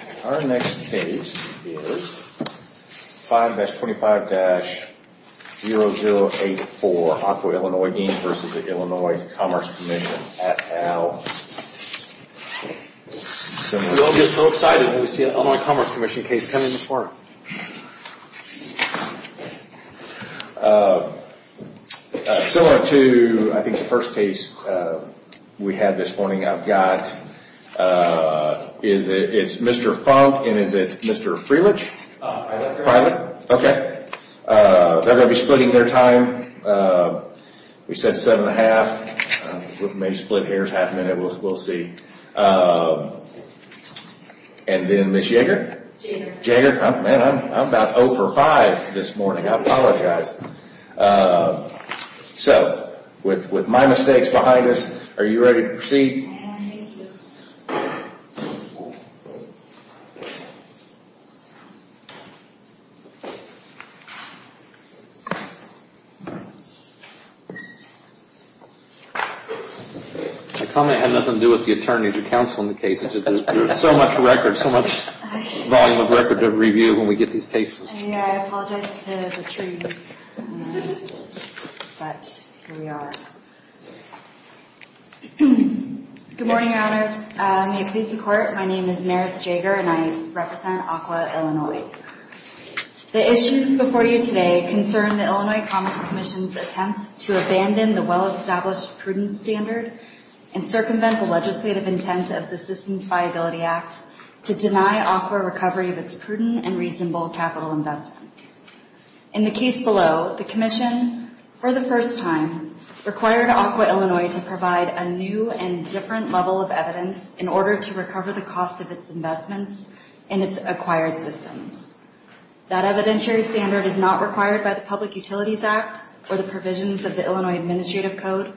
at Al. We all get so excited when we see an Illinois Commerce Comm'n case come in this morning. Similar to I think the first case we had this morning, I've got, it's Mr. Funk and is it Mr. Freelich? They're going to be splitting their time. We said 7 1 half. Maybe split hairs half a minute, we'll see. And then Ms. Jaeger? Jaeger, I'm about 0 for 5 this morning, I apologize. So, with my mistakes behind us, are you ready to proceed? I am, thank you. My comment had nothing to do with the attorneys or counsel in the case. There's so much record, so much volume of record to review when we get these cases. I apologize to the attorneys, but here we are. Good morning, your honors. May it please the court, my name is Maris Jaeger and I represent ACWA Illinois. The issues before you today concern the Illinois Commerce Comm'n's attempt to abandon the well-established prudence standard and circumvent the legislative intent of the Systems Viability Act to deny ACWA recovery of its prudent and reasonable capital investments. In the case below, the commission, for the first time, required ACWA Illinois to provide a new and different level of evidence in order to recover the cost of its investments and its acquired systems. That evidentiary standard is not required by the Public Utilities Act or the provisions of the Illinois Administrative Code,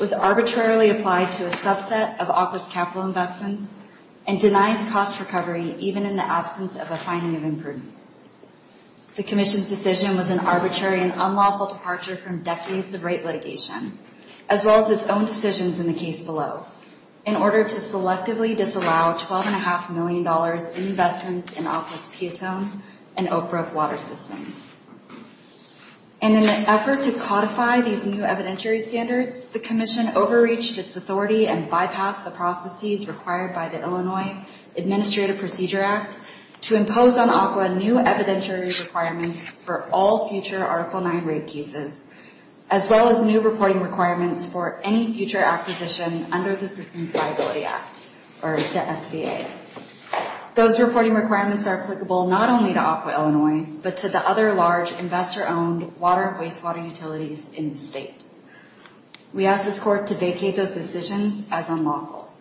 was arbitrarily applied to a subset of ACWA's capital investments, and denies cost recovery even in the absence of a finding of imprudence. The commission's decision was an arbitrary and unlawful departure from decades of right litigation, as well as its own decisions in the case below, in order to selectively disallow $12.5 million in investments in ACWA's Piatone and Oak Brook water systems. In an effort to codify these new evidentiary standards, the commission overreached its authority and bypassed the processes required by the Illinois Administrative Procedure Act to impose on ACWA new evidentiary requirements for all future Article IX rape cases, as well as new reporting requirements for any future acquisition under the Systems Viability Act, or the SVA. Those reporting requirements are applicable not only to ACWA Illinois, but to the other large investor-owned water and wastewater utilities in the state. We ask this Court to indicate those decisions as unlawful.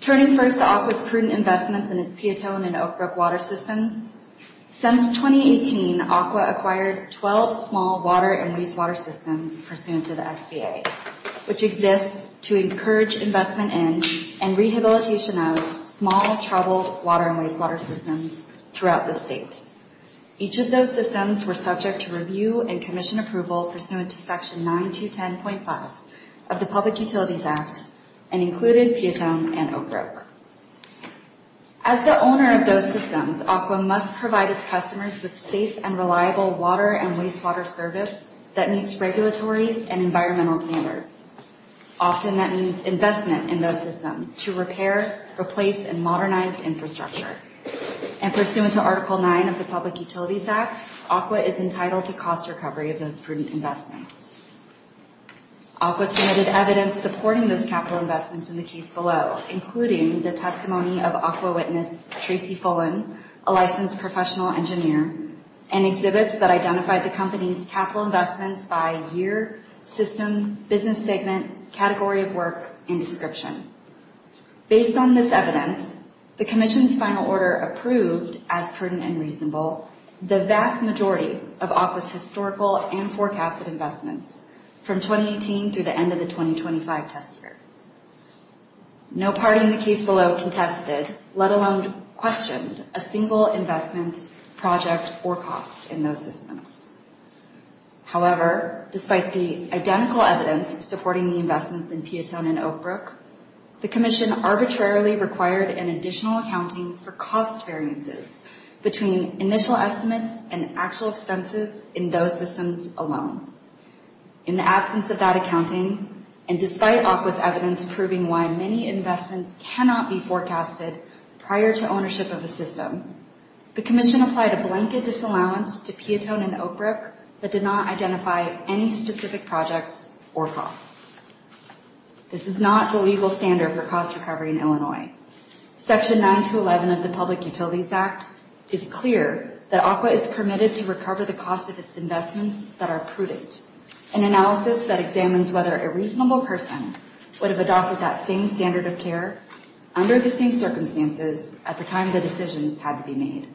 Turning first to ACWA's prudent investments in its Piatone and Oak Brook water systems, since 2018, ACWA acquired 12 small water and wastewater systems pursuant to the SVA, which exists to encourage investment in and rehabilitation of small troubled water and wastewater systems throughout the state. Each of those systems were subject to review and commission approval pursuant to Section 9210.5 of the Public Utilities Act, and included Piatone and Oak Brook. As the owner of those systems, ACWA must provide its customers with safe and reliable water and wastewater service that meets regulatory and environmental standards. Often that means that, under Section 9 of the Public Utilities Act, ACWA is entitled to cost recovery of those prudent investments. ACWA submitted evidence supporting those capital investments in the case below, including the testimony of ACWA witness Tracy Fullen, a licensed professional engineer, and exhibits that identified the company's prudent and reasonable, the vast majority of ACWA's historical and forecasted investments from 2018 through the end of the 2025 test year. No party in the case below contested, let alone questioned, a single investment project or cost in those systems. However, despite the identical evidence supporting the investments in Piatone and Oak Brook, the commission arbitrarily required an additional accounting for cost variances between initial estimates and actual expenses in those systems alone. In the absence of that accounting, and despite ACWA's evidence proving why many investments cannot be forecasted prior to ownership of a system, the commission applied a blanket disallowance to Piatone and Oak Brook that did not identify any specific projects or costs. This is not the legal standard for cost recovery in Illinois. Section 9-11 of the Public Utilities Act is clear that ACWA is permitted to recover the cost of its investments that are prudent, an analysis that examines whether a reasonable person would have adopted that same standard of care under the same circumstances at the time the decisions had to be made.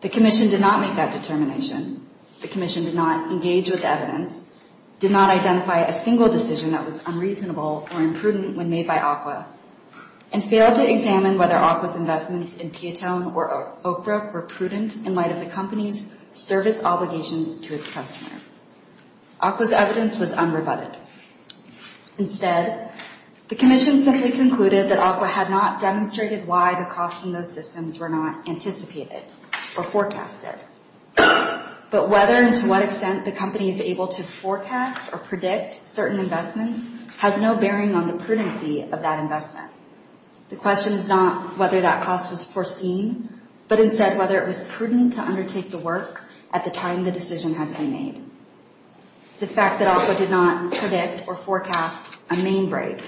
The commission did not make that determination. The commission did not engage with evidence, did not identify a single decision that was unreasonable or imprudent when made by ACWA, and failed to examine whether ACWA's investments in Piatone or Oak Brook were prudent in light of the company's service obligations to its customers. ACWA's evidence was unrebutted. Instead, the commission simply concluded that ACWA had not demonstrated why the costs in those systems were not anticipated or forecasted. But whether and to what extent the company is able to forecast or predict certain investments has no bearing on the prudency of that investment. The question is not whether that cost was foreseen, but instead whether it was prudent to undertake the work at the time the decision had to be made. The fact that ACWA did not predict or forecast a main break,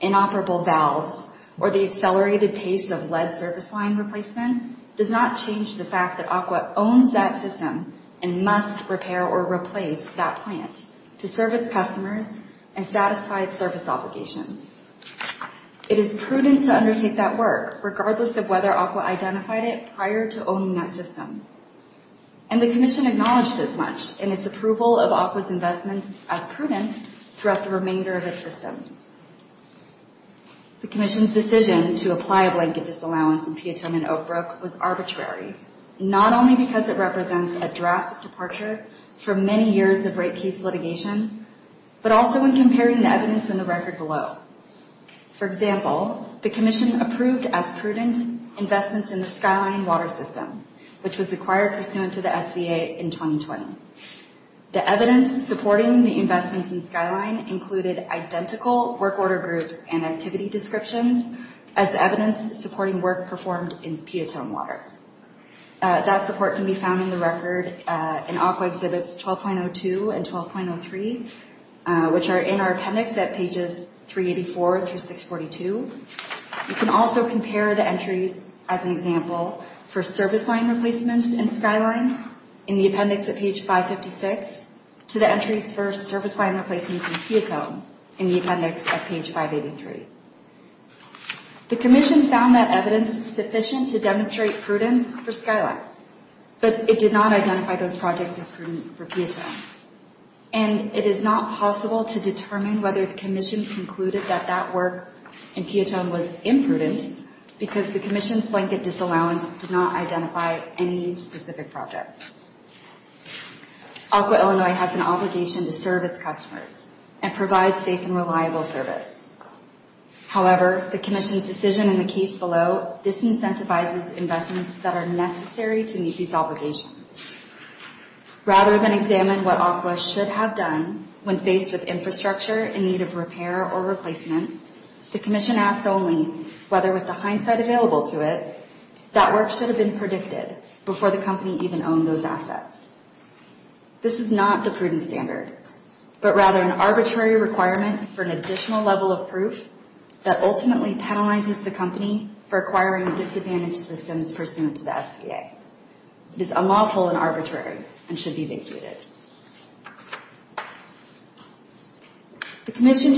inoperable valves, or the accelerated pace of lead surface line replacement does not change the fact that ACWA owns that system and must repair or replace that plant to serve its customers and satisfy its service obligations. It is prudent to undertake that work, regardless of whether ACWA identified it prior to owning that system. And the commission decision to apply a blanket disallowance in Piatone and Oak Brook was arbitrary, not only because it represents a drastic departure from many years of great case litigation, but also when comparing the evidence in the record below. For example, the commission approved as prudent investments in the Skyline water system, which was acquired pursuant to the SBA in 2020. The evidence supporting the investments in Skyline included identical work order groups and activity descriptions as evidence supporting work performed in Piatone water. That support can be found in the record in ACWA exhibits 12.02 and 12.03, which are in our appendix at pages 384 through 642. You can also compare the entries, as an example, for service line replacements in Skyline in the appendix at page 556 to the entries for service line replacements in Piatone in the appendix at page 583. The commission found that evidence sufficient to demonstrate prudence for Skyline, but it did not identify those projects as prudent for Piatone. And it is not possible to determine whether the commission concluded that that work in Piatone was imprudent because the commission's blanket disallowance did not identify any specific projects. ACWA Illinois has an obligation to serve its customers and provide safe and reliable service. However, the commission's decision in the case below disincentivizes investments that are necessary to meet these requirements. The commission asked only whether, with the hindsight available to it, that work should have been predicted before the company even owned those assets. This is not the prudent standard, but rather an arbitrary requirement for an additional level of proof that ultimately penalizes the company for acquiring disadvantaged systems pursuant to the SBA. It is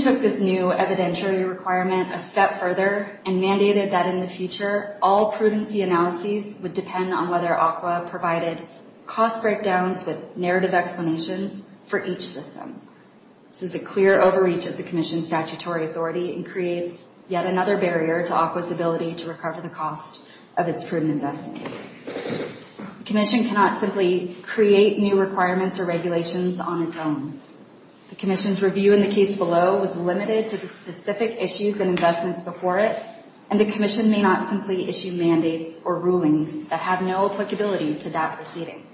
this new evidentiary requirement a step further and mandated that in the future, all prudency analyses would depend on whether ACWA provided cost breakdowns with narrative explanations for each system. This is a clear overreach of the commission's statutory authority and creates yet another barrier to ACWA's ability to recover the cost of its investments. The commission's review in the case below was limited to the specific issues and investments before it, and the commission may not simply issue mandates or rulings that have no applicability to that proceeding.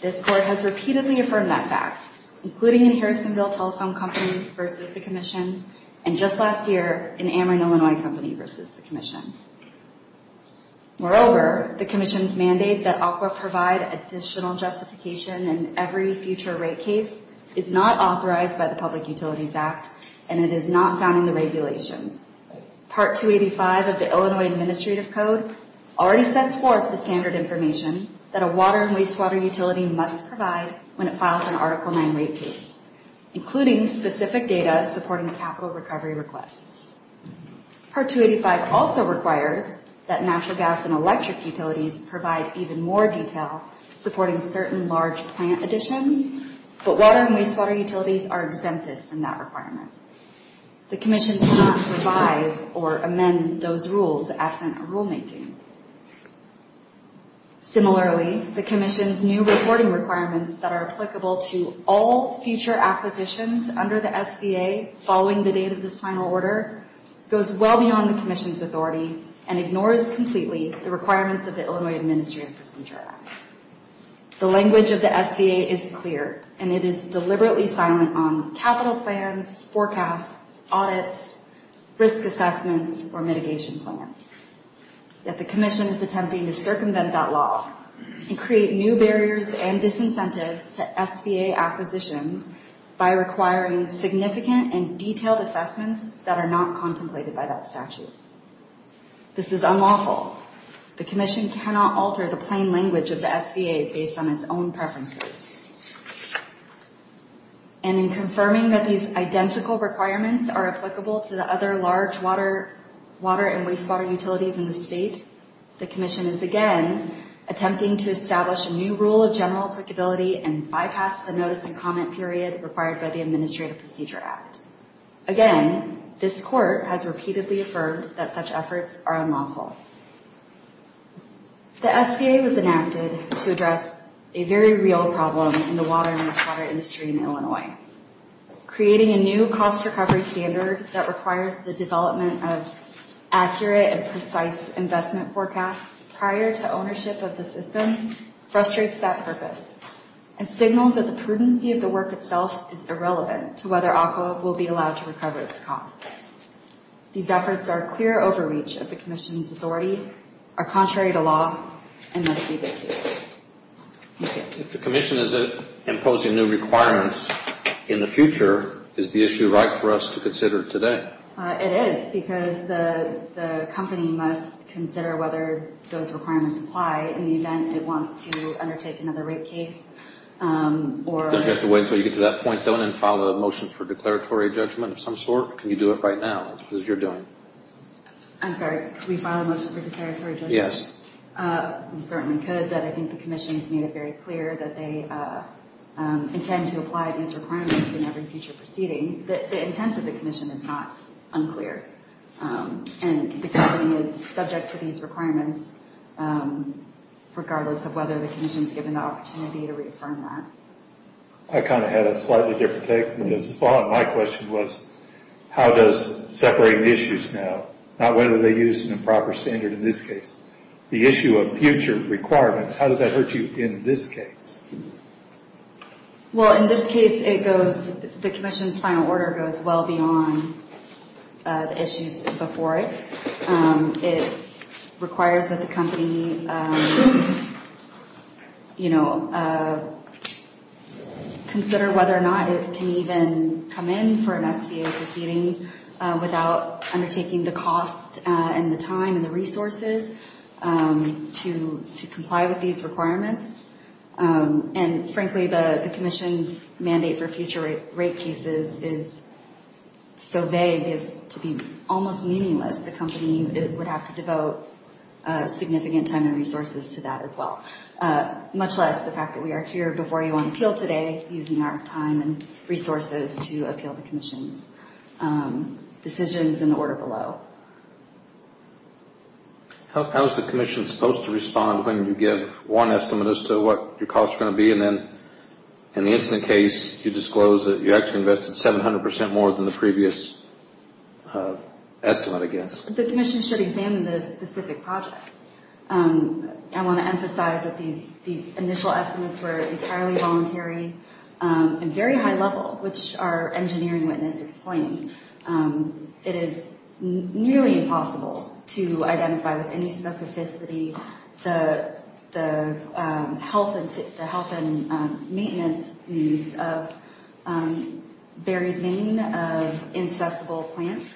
This Court has repeatedly affirmed that fact, including in Harrisonville Telephone Company v. the commission and just last year in Amarin Illinois Company v. the commission. Moreover, the commission's mandate that ACWA provide additional justification in every future rate case is not authorized by the Public Utilities Act, and it is not found in the regulations. Part 285 of the Illinois Administrative Code already sets forth the standard information that a water and wastewater utility must provide when it files an Article IX rate case, including specific data supporting capital recovery requests. Part 285 also requires that natural gas and electric utilities provide even more detail supporting certain large plant additions, but water and wastewater utilities are exempted from that requirement. The commission cannot revise or amend those rules if there is absent a rulemaking. Similarly, the commission's new reporting requirements that are applicable to all future acquisitions under the SBA following the date of this final order goes well beyond the commission's authority and ignores completely the requirements of the Illinois Administrative Procedure Act. The language of the SBA is clear, and it is deliberately silent on capital plans, forecasts, audits, risk assessments, or mitigation plans. Yet the commission is attempting to circumvent that law and create new barriers and disincentives to SBA acquisitions by requiring significant and detailed assessments that are not contemplated by that statute. This is unlawful. The commission cannot alter the plain language of the SBA based on its own preferences. And in confirming that these identical requirements are applicable to the other large water and wastewater utilities in the state, the commission is again attempting to establish a new rule of general applicability and bypass the notice and comment period required by the Administrative Procedure Act. Again, this Court has repeatedly affirmed that such efforts are unlawful. The SBA was enacted to address a very real problem in the water and wastewater industry in Illinois. Creating a new cost recovery standard that requires the development of accurate and precise investment forecasts prior to ownership of the system frustrates that purpose and signals that the prudency of the work itself is irrelevant to whether ACWA will be allowed to recover its costs. These efforts are clear overreach of the commission's authority, are contrary to law, and must be vacated. Thank you. If the commission is imposing new requirements in the future, is the issue right for us to consider today? It is, because the company must consider whether those requirements apply in the event it wants to undertake another rape case. Don't you have to wait until you get to that point, then file a motion for declaratory judgment of some sort? Can you do it right now, as you're doing? I'm sorry, could we file a motion for declaratory judgment? Yes. We certainly could, but I think the commission has made it very clear that they intend to apply these requirements in every future proceeding. The intent of the commission is not unclear, and the company is subject to these requirements, regardless of whether the commission is given the opportunity to reaffirm that. I kind of had a slightly different take on this. My question was, how does separating issues now, not whether they use an improper standard in this case, the issue of future requirements, how does that hurt you in this case? Well, in this case, it goes, the commission's final order goes well beyond the issues before it. It requires that the company, you know, consider whether or not it can even come in for an SBA proceeding without undertaking the cost and the time and the resources to comply with these requirements. And frankly, the commission's mandate for future rate cases is so vague as to be almost meaningless. The company would have to devote significant time and resources to that as well, much less the fact that we are here before you on appeal today, using our time and resources to appeal the commission's decisions in the order below. How is the commission supposed to respond when you give one estimate as to what your costs are going to be, and then, in the incident case, you disclose that you actually invested 700 percent more than the previous estimate, I guess? The commission should examine the specific projects. I want to emphasize that these initial estimates were entirely voluntary and very high level, which our engineering witness explained. It is nearly impossible to identify with any specificity the health and maintenance needs of buried vein of inaccessible plants,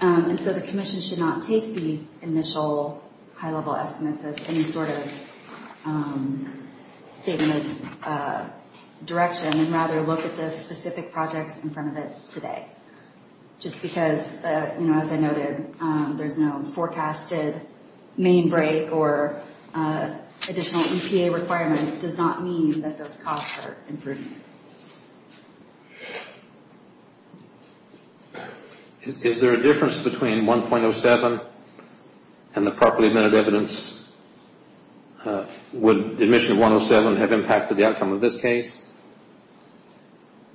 and so the commission should examine the specific projects. The commission should not take these initial high level estimates as any sort of statement of direction, and rather look at the specific projects in front of it today. Just because, you know, as I noted, there's no forecasted main break or additional EPA requirements does not mean that those costs are improved. Is there a difference between 1.07 and the properly admitted evidence? Would admission of 1.07 have impacted the outcome of this case?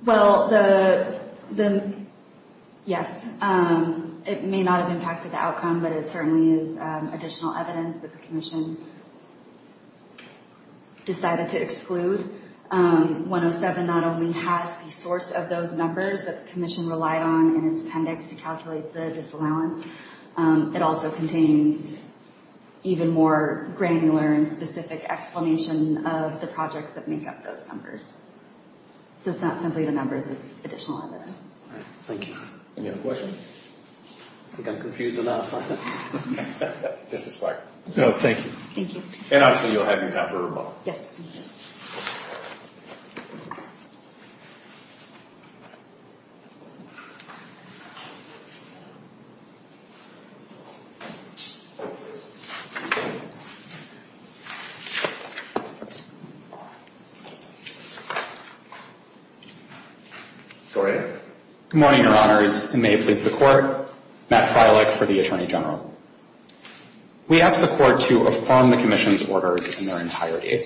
Well, yes. It may not have impacted the outcome, but it certainly is additional evidence that the commission decided to exclude 1.07. 1.07 not only has the source of those numbers that the commission relied on in its appendix to calculate the disallowance, it also contains even more granular and specific explanation of the projects that make up those numbers. So it's not simply the numbers, it's additional evidence. Thank you. Any other questions? I think I'm confused enough. No, thank you. And obviously you'll have your time for rebuttal. Yes. Go ahead. Good morning, Your Honors, and may it please the Court. Matt Freilich for the Attorney General. We ask the Court to affirm the commission's orders in their entirety.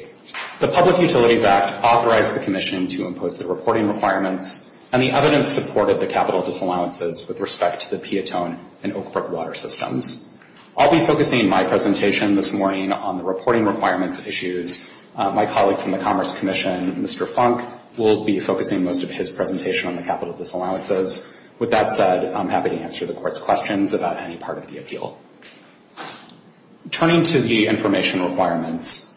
The Public Utilities Act authorized the commission to impose the reporting requirements, and the evidence supported the capital disallowances with respect to the Piatone and Oakport water systems. I'll be focusing my presentation this morning on the reporting requirements issues. My colleague from the Commerce Commission, Mr. Funk, will be focusing most of his presentation on the capital disallowances. With that said, I'm happy to answer the Court's questions about any part of the appeal. Turning to the information requirements,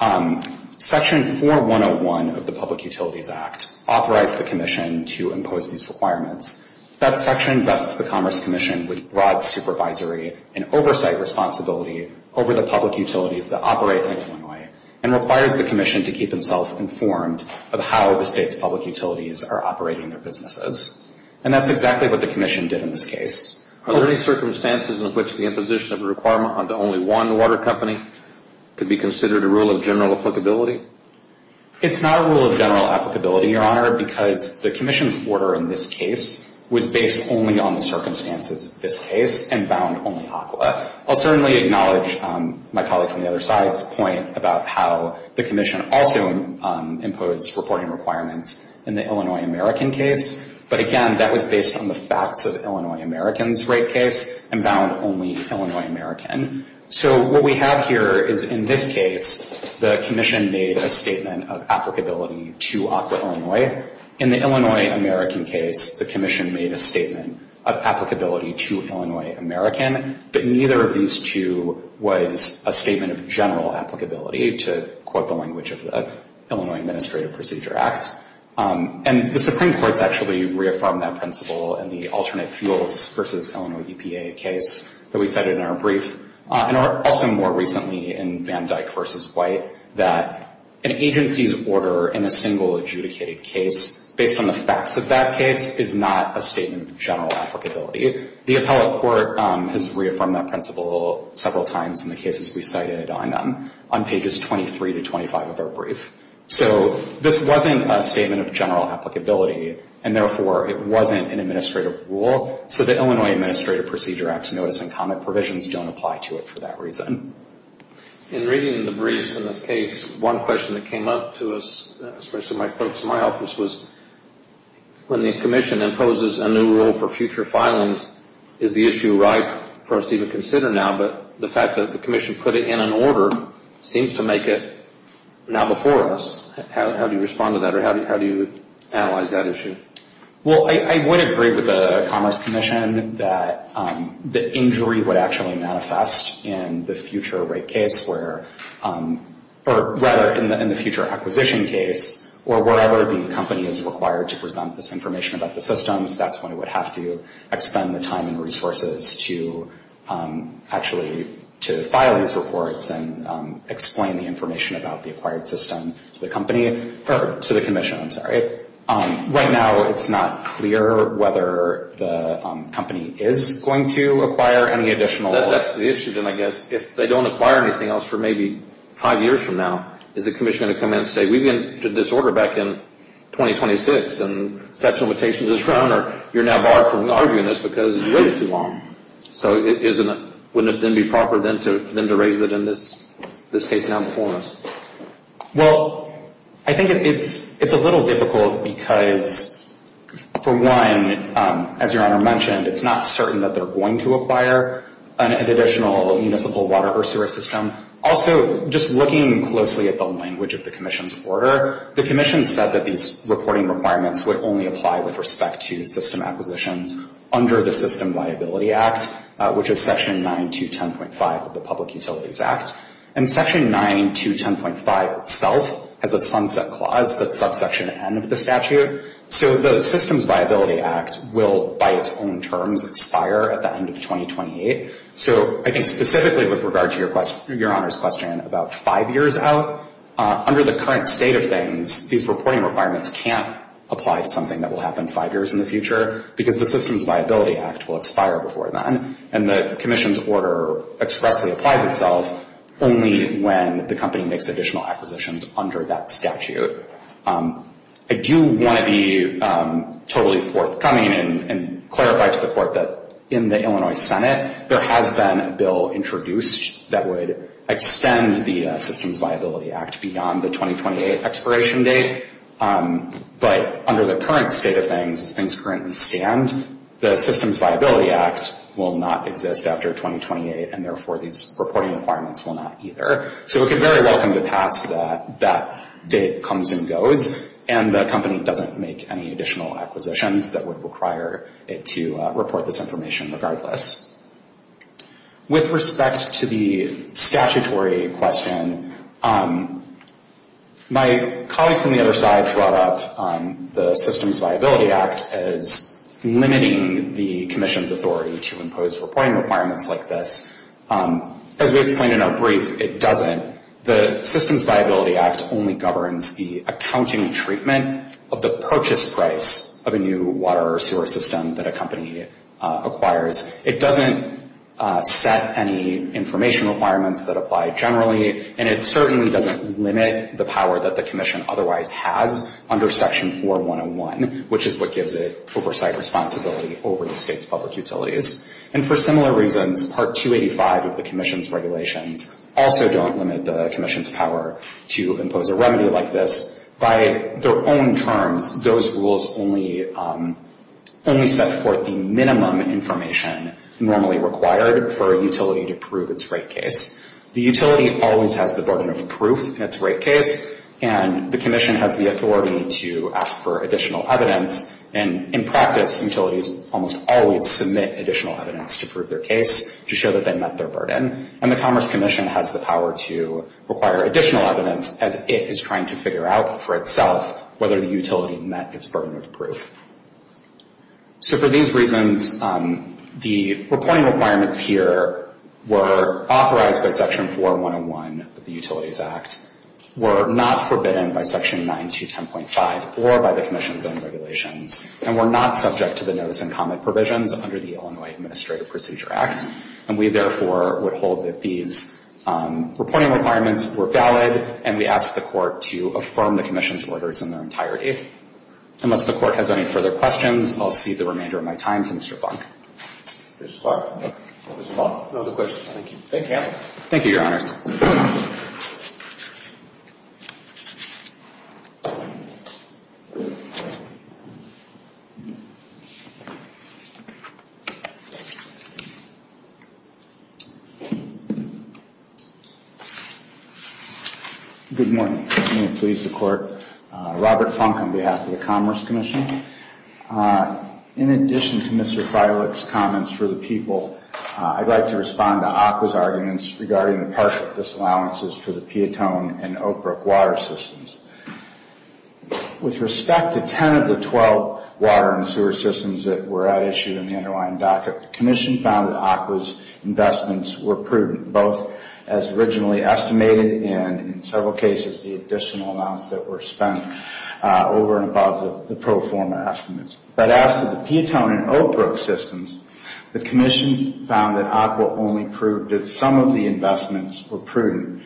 Section 4101 of the Public Utilities Act authorized the commission to impose these requirements. That section vests the Commerce Commission with broad supervisory and oversight responsibility over the public utilities that operate in Illinois. And requires the commission to keep itself informed of how the state's public utilities are operating their businesses. And that's exactly what the commission did in this case. It's not a rule of general applicability, Your Honor, because the commission's order in this case was based only on the circumstances of this case and bound only ACWA. I'll certainly acknowledge my colleague from the other side's point about how the commission also imposed reporting requirements in the Illinois American case. But again, that was based on the facts of the Illinois American's rape case and bound only Illinois American. So what we have here is, in this case, the commission made a statement of applicability to ACWA Illinois. In the Illinois American case, the commission made a statement of applicability to Illinois American. But neither of these two was a statement of general applicability, to quote the language of the Illinois Administrative Procedure Act. And the Supreme Court's actually reaffirmed that principle in the alternate fuels versus Illinois EPA case that we cited in our brief. And also more recently in Van Dyck v. White, that an agency's order in a single adjudicated case, based on the facts of that case, is not a statement of general applicability. The appellate court has reaffirmed that principle several times in the cases we cited on pages 23 to 25 of our brief. So this wasn't a statement of general applicability, and therefore it wasn't an administrative rule. So the Illinois Administrative Procedure Act's notice and comment provisions don't apply to it for that reason. In reading the briefs in this case, one question that came up to us, especially my folks in my office, was when the commission imposes a new rule for future filings, is the issue ripe for us to even consider now? But the fact that the commission put it in an order seems to make it now before us. How do you respond to that, or how do you analyze that issue? Well, I would agree with the Commerce Commission that the injury would actually manifest in the future rate case, or rather, in the future acquisition case, or wherever the company is required to present this information about the systems. That's when it would have to expend the time and resources to actually file these reports and explain the information about the acquired system to the commission. Right now, it's not clear whether the company is going to acquire any additional... Well, that's the issue, then, I guess. If they don't acquire anything else for maybe five years from now, is the commission going to come in and say, we've entered this order back in 2026, and exceptional limitations has run, or you're now barred from arguing this because you waited too long? So wouldn't it then be proper then to raise it in this case now before us? Well, I think it's a little difficult because, for one, as Your Honor mentioned, it's not certain that they're going to acquire an additional municipal water or sewer system. Also, just looking closely at the language of the commission's order, the commission said that these reporting requirements would only apply with respect to system acquisitions under the System Viability Act, which is Section 9210.5 of the Public Utilities Act. And Section 9210.5 itself has a sunset clause that's subsection N of the statute. So the Systems Viability Act will, by its own terms, expire at the end of 2028. So I think specifically with regard to Your Honor's question about five years out, under the current state of things, these reporting requirements can't apply to something that will happen five years in the future because the Systems Viability Act will expire before then, and the commission's order expressly applies itself only when the company makes additional acquisitions under that statute. I do want to be totally forthcoming and clarify to the Court that in the Illinois Senate, there has been a bill introduced that would extend the Systems Viability Act beyond the 2028 expiration date, but under the current state of things, as things currently stand, the Systems Viability Act will not exist after 2028, and therefore these reporting requirements will not either. So we're very welcome to pass that date comes and goes, and the company doesn't make any additional acquisitions that would require it to report this information regardless. With respect to the statutory question, my colleague from the other side brought up the Systems Viability Act as limiting the commission's authority to impose reporting requirements like this. As we explained in our brief, it doesn't. The Systems Viability Act only governs the accounting treatment of the purchase price of a new water or sewer system that a company acquires. It doesn't set any information requirements that apply generally, and it certainly doesn't limit the power that the commission otherwise has under Section 4101, which is what gives it oversight responsibility over the state's public utilities. And for similar reasons, Part 285 of the commission's regulations also don't limit the commission's power to impose a remedy like this. By their own terms, those rules only set forth the minimum information normally required for a utility to prove its rate case. The utility always has the burden of proof in its rate case, and the commission has the authority to ask for additional evidence. And in practice, utilities almost always submit additional evidence to prove their case to show that they met their burden. And the Commerce Commission has the power to require additional evidence as it is trying to figure out for itself whether the utility met its burden of proof. So for these reasons, the reporting requirements here were authorized by Section 4101 of the Utilities Act, were not forbidden by Section 9210.5 or by the commission's own regulations, and were not subject to the notice and comment provisions under the Illinois Administrative Procedure Act. And we therefore would hold that these reporting requirements were valid, and we ask the Court to affirm the commission's orders in their entirety. Unless the Court has any further questions, I'll see the remainder of my time to Mr. Buck. Thank you, Your Honors. Good morning. I'm going to please the Court. Robert Funk on behalf of the Commerce Commission. In addition to Mr. Freilich's comments for the people, I'd like to respond to ACWA's arguments regarding the partial disallowances for the Piatone and Oakbrook water systems. With respect to 10 of the 12 water and sewer systems that were at issue in the underlying docket, the commission found that ACWA's investments were prudent, both as originally estimated, and in several cases, the additional amounts that were spent over and above the pro forma estimates. But as to the Piatone and Oakbrook systems, the commission found that ACWA only proved that some of the investments were prudent.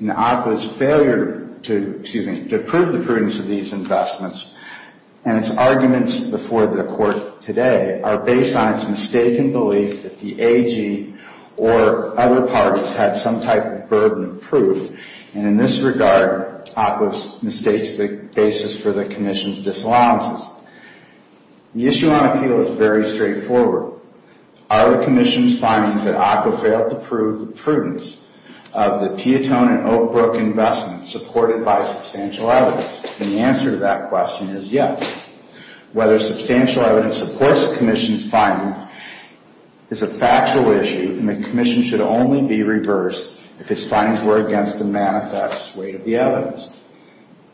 And ACWA's failure to prove the prudence of these investments, and its arguments before the Court today, are based on its mistaken belief that the AG or other parties had some type of burden of proof. And in this regard, ACWA mistakes the basis for the commission's disallowances. The issue on appeal is very straightforward. Are the commission's findings that ACWA failed to prove the prudence of the Piatone and Oakbrook investments supported by substantial evidence? And the answer to that question is yes. Whether substantial evidence supports the commission's finding is a factual issue, and the commission should only be reversed if its findings were against the manifest weight of the evidence.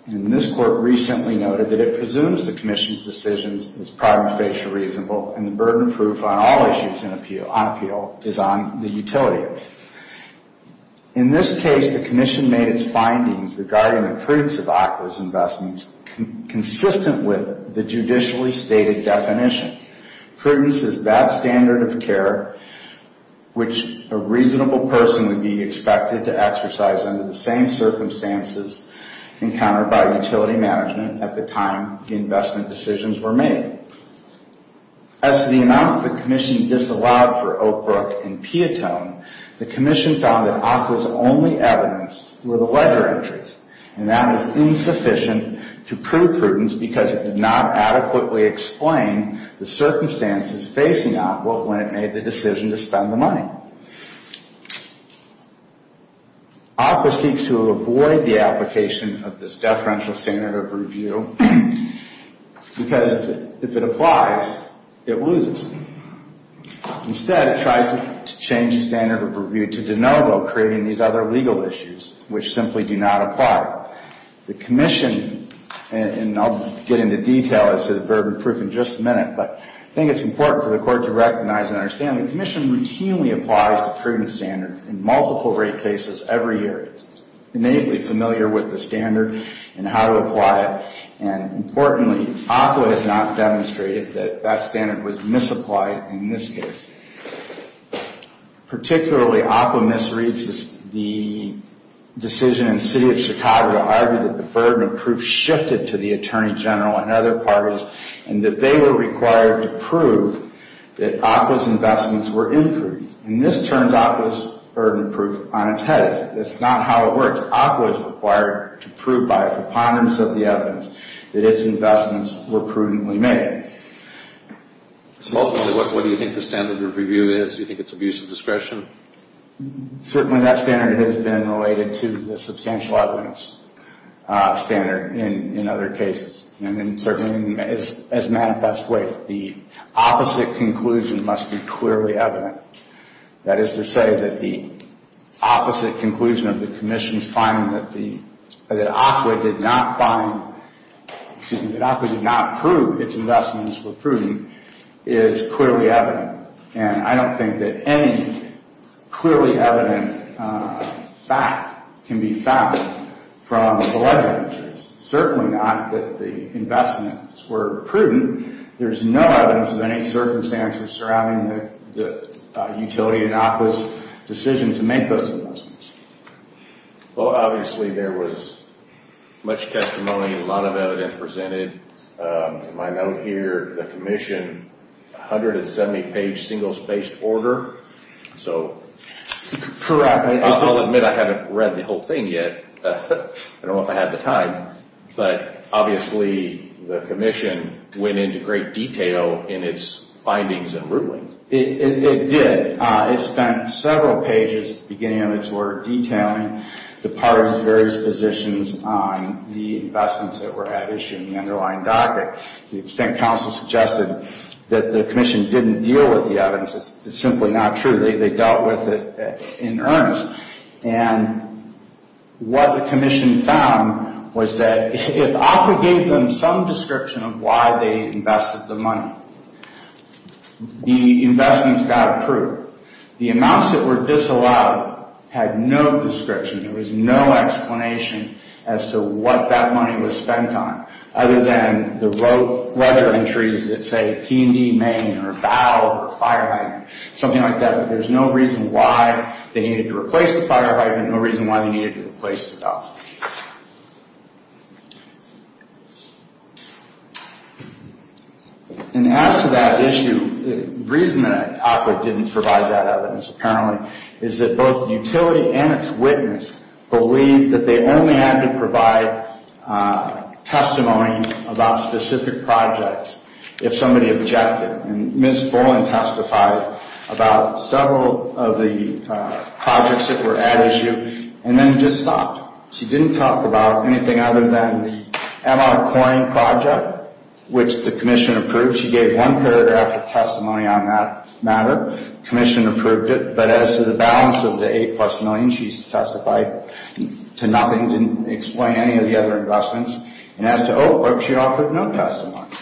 And this Court recently noted that it presumes the commission's decision is prima facie reasonable, and the burden of proof on all issues on appeal is on the utility. In this case, the commission made its findings regarding the prudence of ACWA's investments consistent with the judicially stated definition. Prudence is that standard of care, which a reasonable person would be expected to exercise under the same circumstances encountered by utility management at the time the investment decisions were made. As to the amounts the commission disallowed for Oakbrook and Piatone, the commission found that ACWA's only evidence were the ledger entries, and that was insufficient to prove prudence because it did not adequately explain the circumstances facing ACWA when it made the decision to spend the money. ACWA seeks to avoid the application of this deferential standard of review, because if it applies, it loses. Instead, it tries to change the standard of review to de novo, creating these other legal issues, which simply do not apply. The commission, and I'll get into detail as to the burden of proof in just a minute, but I think it's important for the Court to recognize and understand the commission routinely applies the prudence standard in multiple rape cases every year. It's innately familiar with the standard and how to apply it, and importantly, ACWA has not demonstrated that that standard was misapplied in this case. Particularly, ACWA misreads the decision in the City of Chicago to argue that the burden of proof shifted to the Attorney General and other parties, and that they were required to prove that ACWA's investments were imprudent. And this turned ACWA's burden of proof on its head. That's not how it works. ACWA is required to prove by preponderance of the evidence that its investments were prudently made. Ultimately, what do you think the standard of review is? Do you think it's abuse of discretion? Certainly, that standard has been related to the substantial evidence standard in other cases. And certainly, as Matt best weighed, the opposite conclusion must be clearly evident. That is to say that the opposite conclusion of the commission's finding that ACWA did not find, excuse me, that ACWA did not prove its investments were prudent, is clearly evident. And I don't think that any clearly evident fact can be found from the ledger entries. Certainly not that the investments were prudent. There's no evidence of any circumstances surrounding the utility and ACWA's decision to make those investments. Well, obviously, there was much testimony, a lot of evidence presented. To my note here, the commission, 170-page single-spaced order. Correct. I'll admit I haven't read the whole thing yet. I don't know if I have the time. But obviously, the commission went into great detail in its findings and rulings. It did. It spent several pages at the beginning of its order detailing the parties' various positions on the investments that were at issue in the underlying docket. To the extent counsel suggested that the commission didn't deal with the evidence, it's simply not true. They dealt with it in earnest. And what the commission found was that if ACWA gave them some description of why they invested the money, the investments got approved. The amounts that were disallowed had no description. There was no explanation as to what that money was spent on, other than the ledger entries that say T&D main or valve or fire hydrant, something like that. There's no reason why they needed to replace the fire hydrant, no reason why they needed to replace the valve. And as to that issue, the reason that ACWA didn't provide that evidence, apparently, is that both utility and its witness believed that they only had to provide testimony about specific projects if somebody objected. And Ms. Boland testified about several of the projects that were at issue, and then just stopped. She didn't talk about anything other than the EMA coin project, which the commission approved. She gave one paragraph of testimony on that matter. The commission approved it. But as to the balance of the $8 million, she testified to nothing, didn't explain any of the other investments. And as to Oak Brook, she offered no testimony.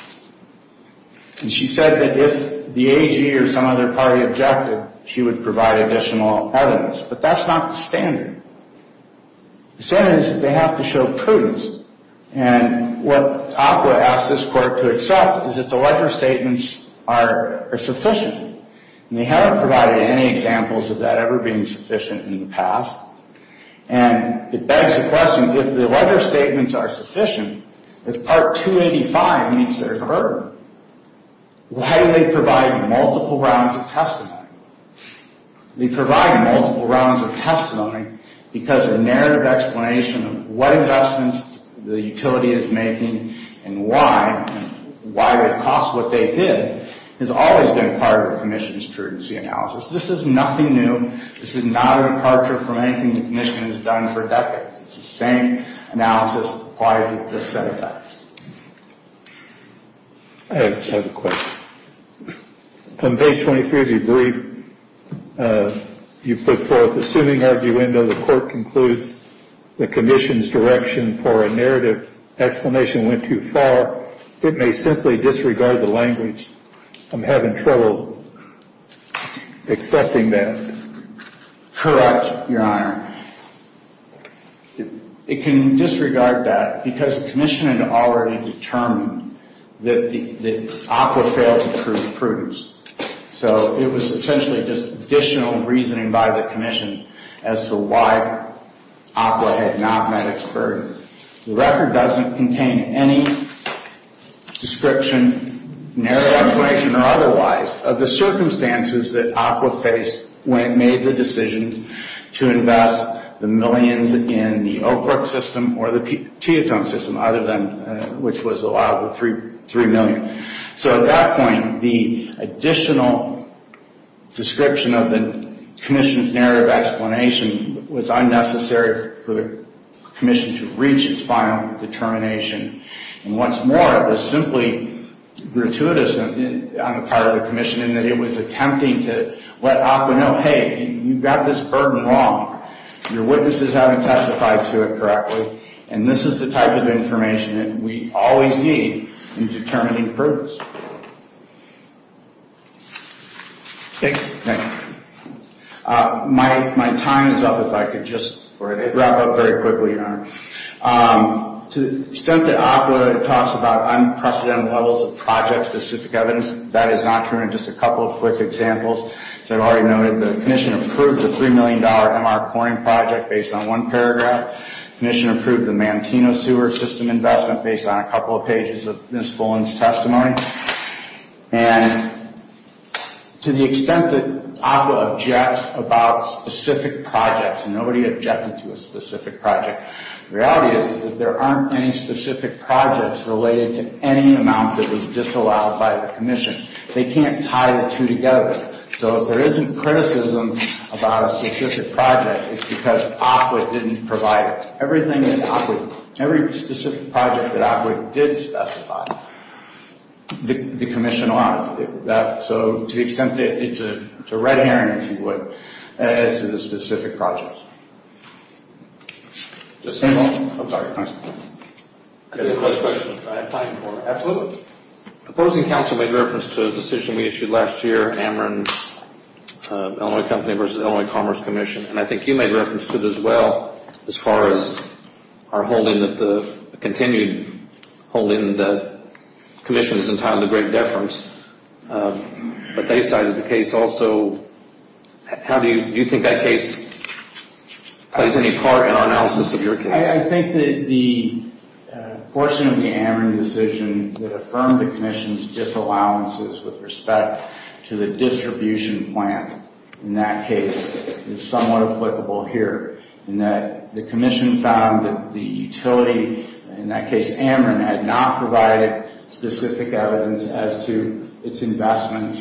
And she said that if the AG or some other party objected, she would provide additional evidence. But that's not the standard. The standard is that they have to show prudence. And what ACWA asked this court to accept is that the ledger statements are sufficient. And they haven't provided any examples of that ever being sufficient in the past. And it begs the question, if the ledger statements are sufficient, if Part 285 means there's a burden, why do they provide multiple rounds of testimony? They provide multiple rounds of testimony because the narrative explanation of what investments the utility is making and why it costs what they did has always been part of the commission's prudency analysis. This is nothing new. This is not a departure from anything the commission has done for decades. It's the same analysis applied to this set of facts. I have a question. On page 23 of your brief, you put forth the suing arguendo. The court concludes the commission's direction for a narrative explanation went too far. It may simply disregard the language. I'm having trouble accepting that. Correct, Your Honor. It can disregard that because the commission had already determined that ACWA failed to prove prudence. So it was essentially just additional reasoning by the commission as to why ACWA had not met its burden. The record doesn't contain any description, narrative explanation or otherwise, of the circumstances that ACWA faced when it made the decision to invest the millions in the Oak Brook system or the Teotihuacan system, which was allowed the $3 million. So at that point, the additional description of the commission's narrative explanation was unnecessary for the commission to reach its final determination. And what's more, it was simply gratuitous on the part of the commission in that it was attempting to let ACWA know, hey, you've got this burden wrong. Your witnesses haven't testified to it correctly. And this is the type of information that we always need in determining prudence. Thank you. Thank you. My time is up, if I could just wrap up very quickly, Your Honor. To the extent that ACWA talks about unprecedented levels of project-specific evidence, that is not true in just a couple of quick examples. As I've already noted, the commission approved the $3 million MR Corning project based on one paragraph. The commission approved the Manteno sewer system investment based on a couple of pages of Ms. Fullen's testimony. And to the extent that ACWA objects about specific projects, and nobody objected to a specific project, the reality is that there aren't any specific projects related to any amount that was disallowed by the commission. They can't tie the two together. So if there isn't criticism about a specific project, it's because ACWA didn't provide it. Every specific project that ACWA did specify, the commission allowed it. So to the extent that it's a red herring, if you would, as to the specific projects. The opposing counsel made reference to a decision we issued last year, Ameren Illinois Company versus Illinois Commerce Commission, and I think you made reference to it as well as far as our holding that the commission is entitled to great deference, but they cited the case also. Do you think that case plays any part in our analysis of your case? I think that the portion of the Ameren decision that affirmed the commission's disallowances with respect to the distribution plant in that case is somewhat applicable here. The commission found that the utility, in that case Ameren, had not provided specific evidence as to its investment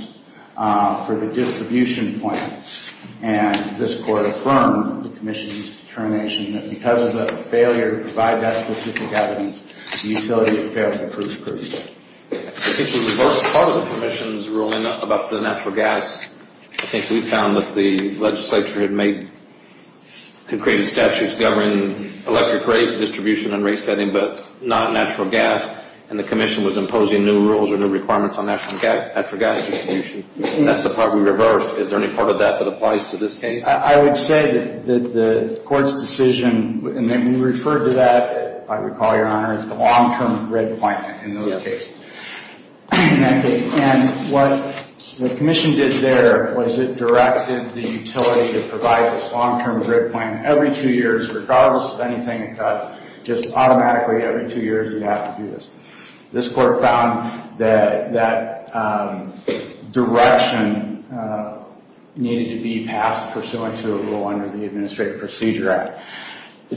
for the distribution plant. And this court affirmed the commission's determination that because of the failure to provide that specific evidence, the utility failed to prove proof. I think the reverse clause of the commission's ruling about the natural gas, I think we found that the legislature had made concreting statutes governing electric rate distribution and rate setting but not natural gas, and the commission was imposing new rules or new requirements on natural gas distribution. That's the part we reversed. Is there any part of that that applies to this case? I would say that the court's decision, and we referred to that, if I recall, Your Honor, as the long-term red plant in that case. And what the commission did there was it directed the utility to provide this long-term red plant every two years, regardless of anything it does, just automatically every two years we have to do this. This court found that that direction needed to be passed pursuant to a rule under the Administrative Procedure Act.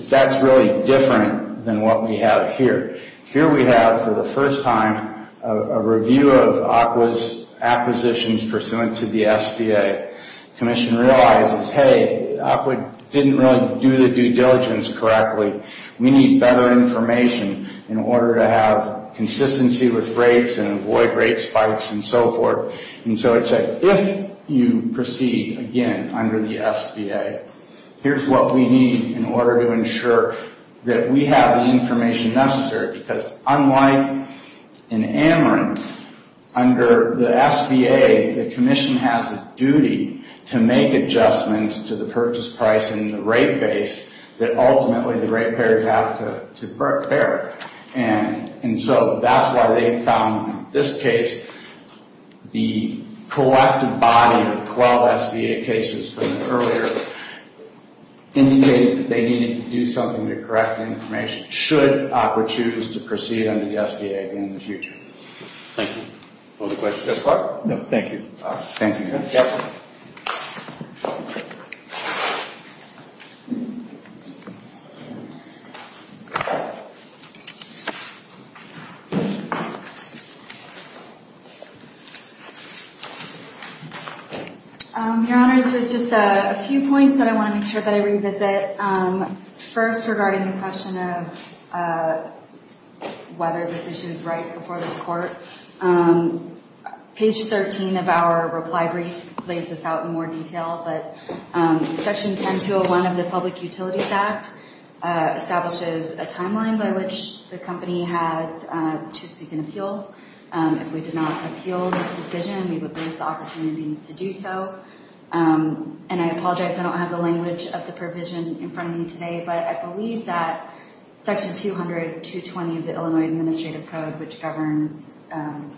That's really different than what we have here. Here we have, for the first time, a review of ACWA's acquisitions pursuant to the SBA. The commission realizes, hey, ACWA didn't really do the due diligence correctly. We need better information in order to have consistency with rates and avoid rate spikes and so forth. And so it said, if you proceed again under the SBA, here's what we need in order to ensure that we have the information necessary. Because unlike in Ameren, under the SBA, the commission has a duty to make adjustments to the purchase price and the rate base that ultimately the rate payers have to bear. And so that's why they found, in this case, the collective body of 12 SBA cases from earlier indicated that they needed to do something to correct the information, should ACWA choose to proceed under the SBA again in the future. Thank you. Other questions thus far? No, thank you. Thank you. Your Honor, there's just a few points that I want to make sure that I revisit. First, regarding the question of whether this issue is right before this court, page 13 of our reply brief lays this out in more detail. But Section 10201 of the Public Utilities Act establishes a timeline by which the SBA can review the language the company has to seek an appeal. If we did not appeal this decision, we would lose the opportunity to do so. And I apologize, I don't have the language of the provision in front of me today, but I believe that Section 200.220 of the Illinois Administrative Code, which governs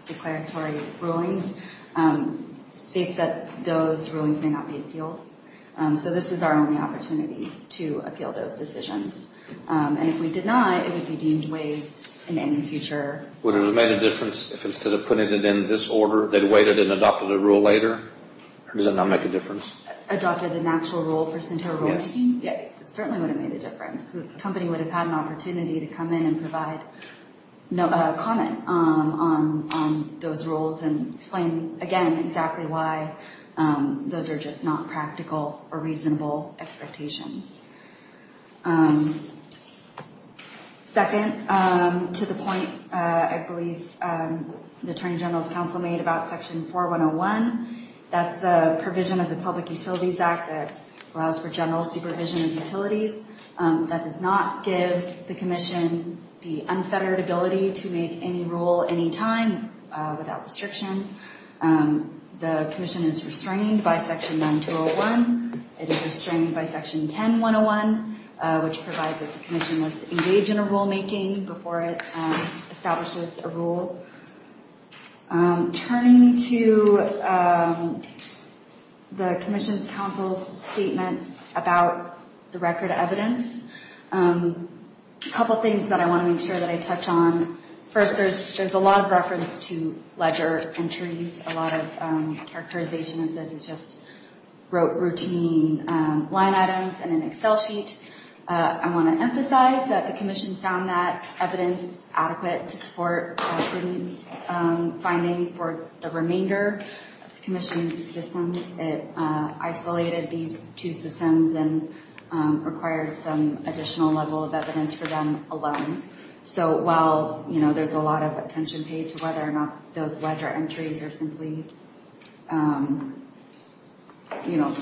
declaratory rulings, states that those rulings may not be appealed. So this is our only opportunity to appeal those decisions. And if we did not, it would be deemed waived in the future. Would it have made a difference if instead of putting it in this order, they waited and adopted a rule later? Or does it not make a difference? Adopted an actual rule for SINTA rules? It certainly would have made a difference. The company would have had an opportunity to come in and provide comment on those rules and explain, again, exactly why those are just not practical or reasonable expectations. Second, to the point I believe the Attorney General's counsel made about Section 4101, that's the provision of the Public Utilities Act that allows for general supervision of utilities. That does not give the Commission the unfettered ability to make any rule anytime without restriction. The Commission is restrained by Section 9201. It is restrained by Section 10101, which provides that the Commission must engage in a rulemaking before it establishes a rule. So, turning to the Commission's counsel's statements about the record of evidence, a couple things that I want to make sure that I touch on. First, there's a lot of reference to ledger entries. A lot of characterization of this is just routine line items in an Excel sheet. I want to emphasize that the Commission found that evidence adequate to support the student's finding for the remainder of the Commission's systems. It isolated these two systems and required some additional level of evidence for them alone. So, while there's a lot of attention paid to whether or not those ledger entries are simply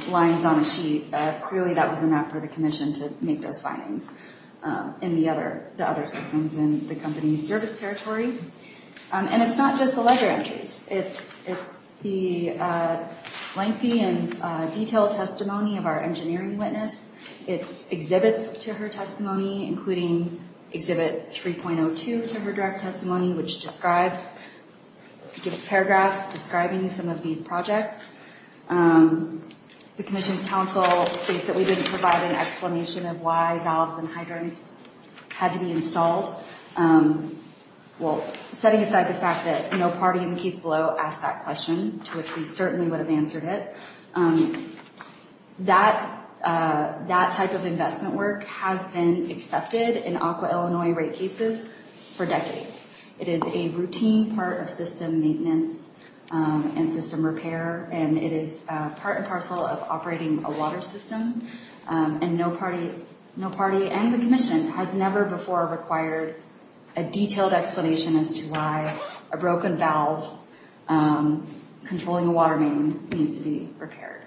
lines on a sheet, clearly that was enough for the Commission to make those findings in the other systems in the company's service territory. And it's not just the ledger entries. It's the lengthy and detailed testimony of our engineering witness. It's exhibits to her testimony, including Exhibit 3.02 to her direct testimony, which gives paragraphs describing some of these projects. The Commission's counsel states that we didn't provide an explanation of why valves and hydrants had to be installed. Well, setting aside the fact that no party in the case below asked that question, to which we certainly would have answered it, that type of investment work has been accepted in Aqua Illinois rate cases for decades. It is a routine part of system maintenance and system repair, and it is part and parcel of operating a water system. And no party and the Commission has never before required a detailed explanation as to why a broken valve controlling a water main needs to be repaired.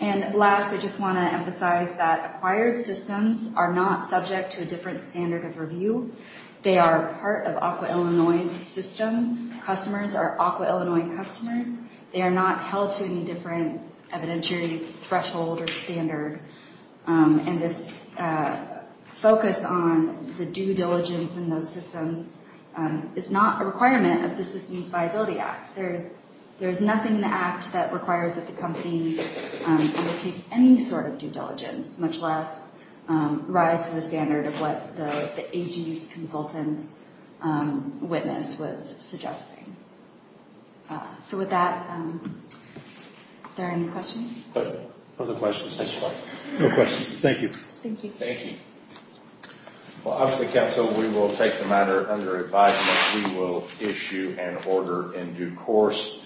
And last, I just want to emphasize that acquired systems are not subject to a different standard of review. They are part of Aqua Illinois' system. Customers are Aqua Illinois customers. They are not held to any different evidentiary threshold or standard. And this focus on the due diligence in those systems is not a requirement of the Systems Viability Act. There's nothing in the Act that requires that the company undertake any sort of due diligence, much less rise to the standard of what the AG's consultant witness was suggesting. So with that, are there any questions? Other questions? No questions. Thank you. Thank you. Well, obviously, counsel, we will take the matter under advisement. We will issue an order in due course.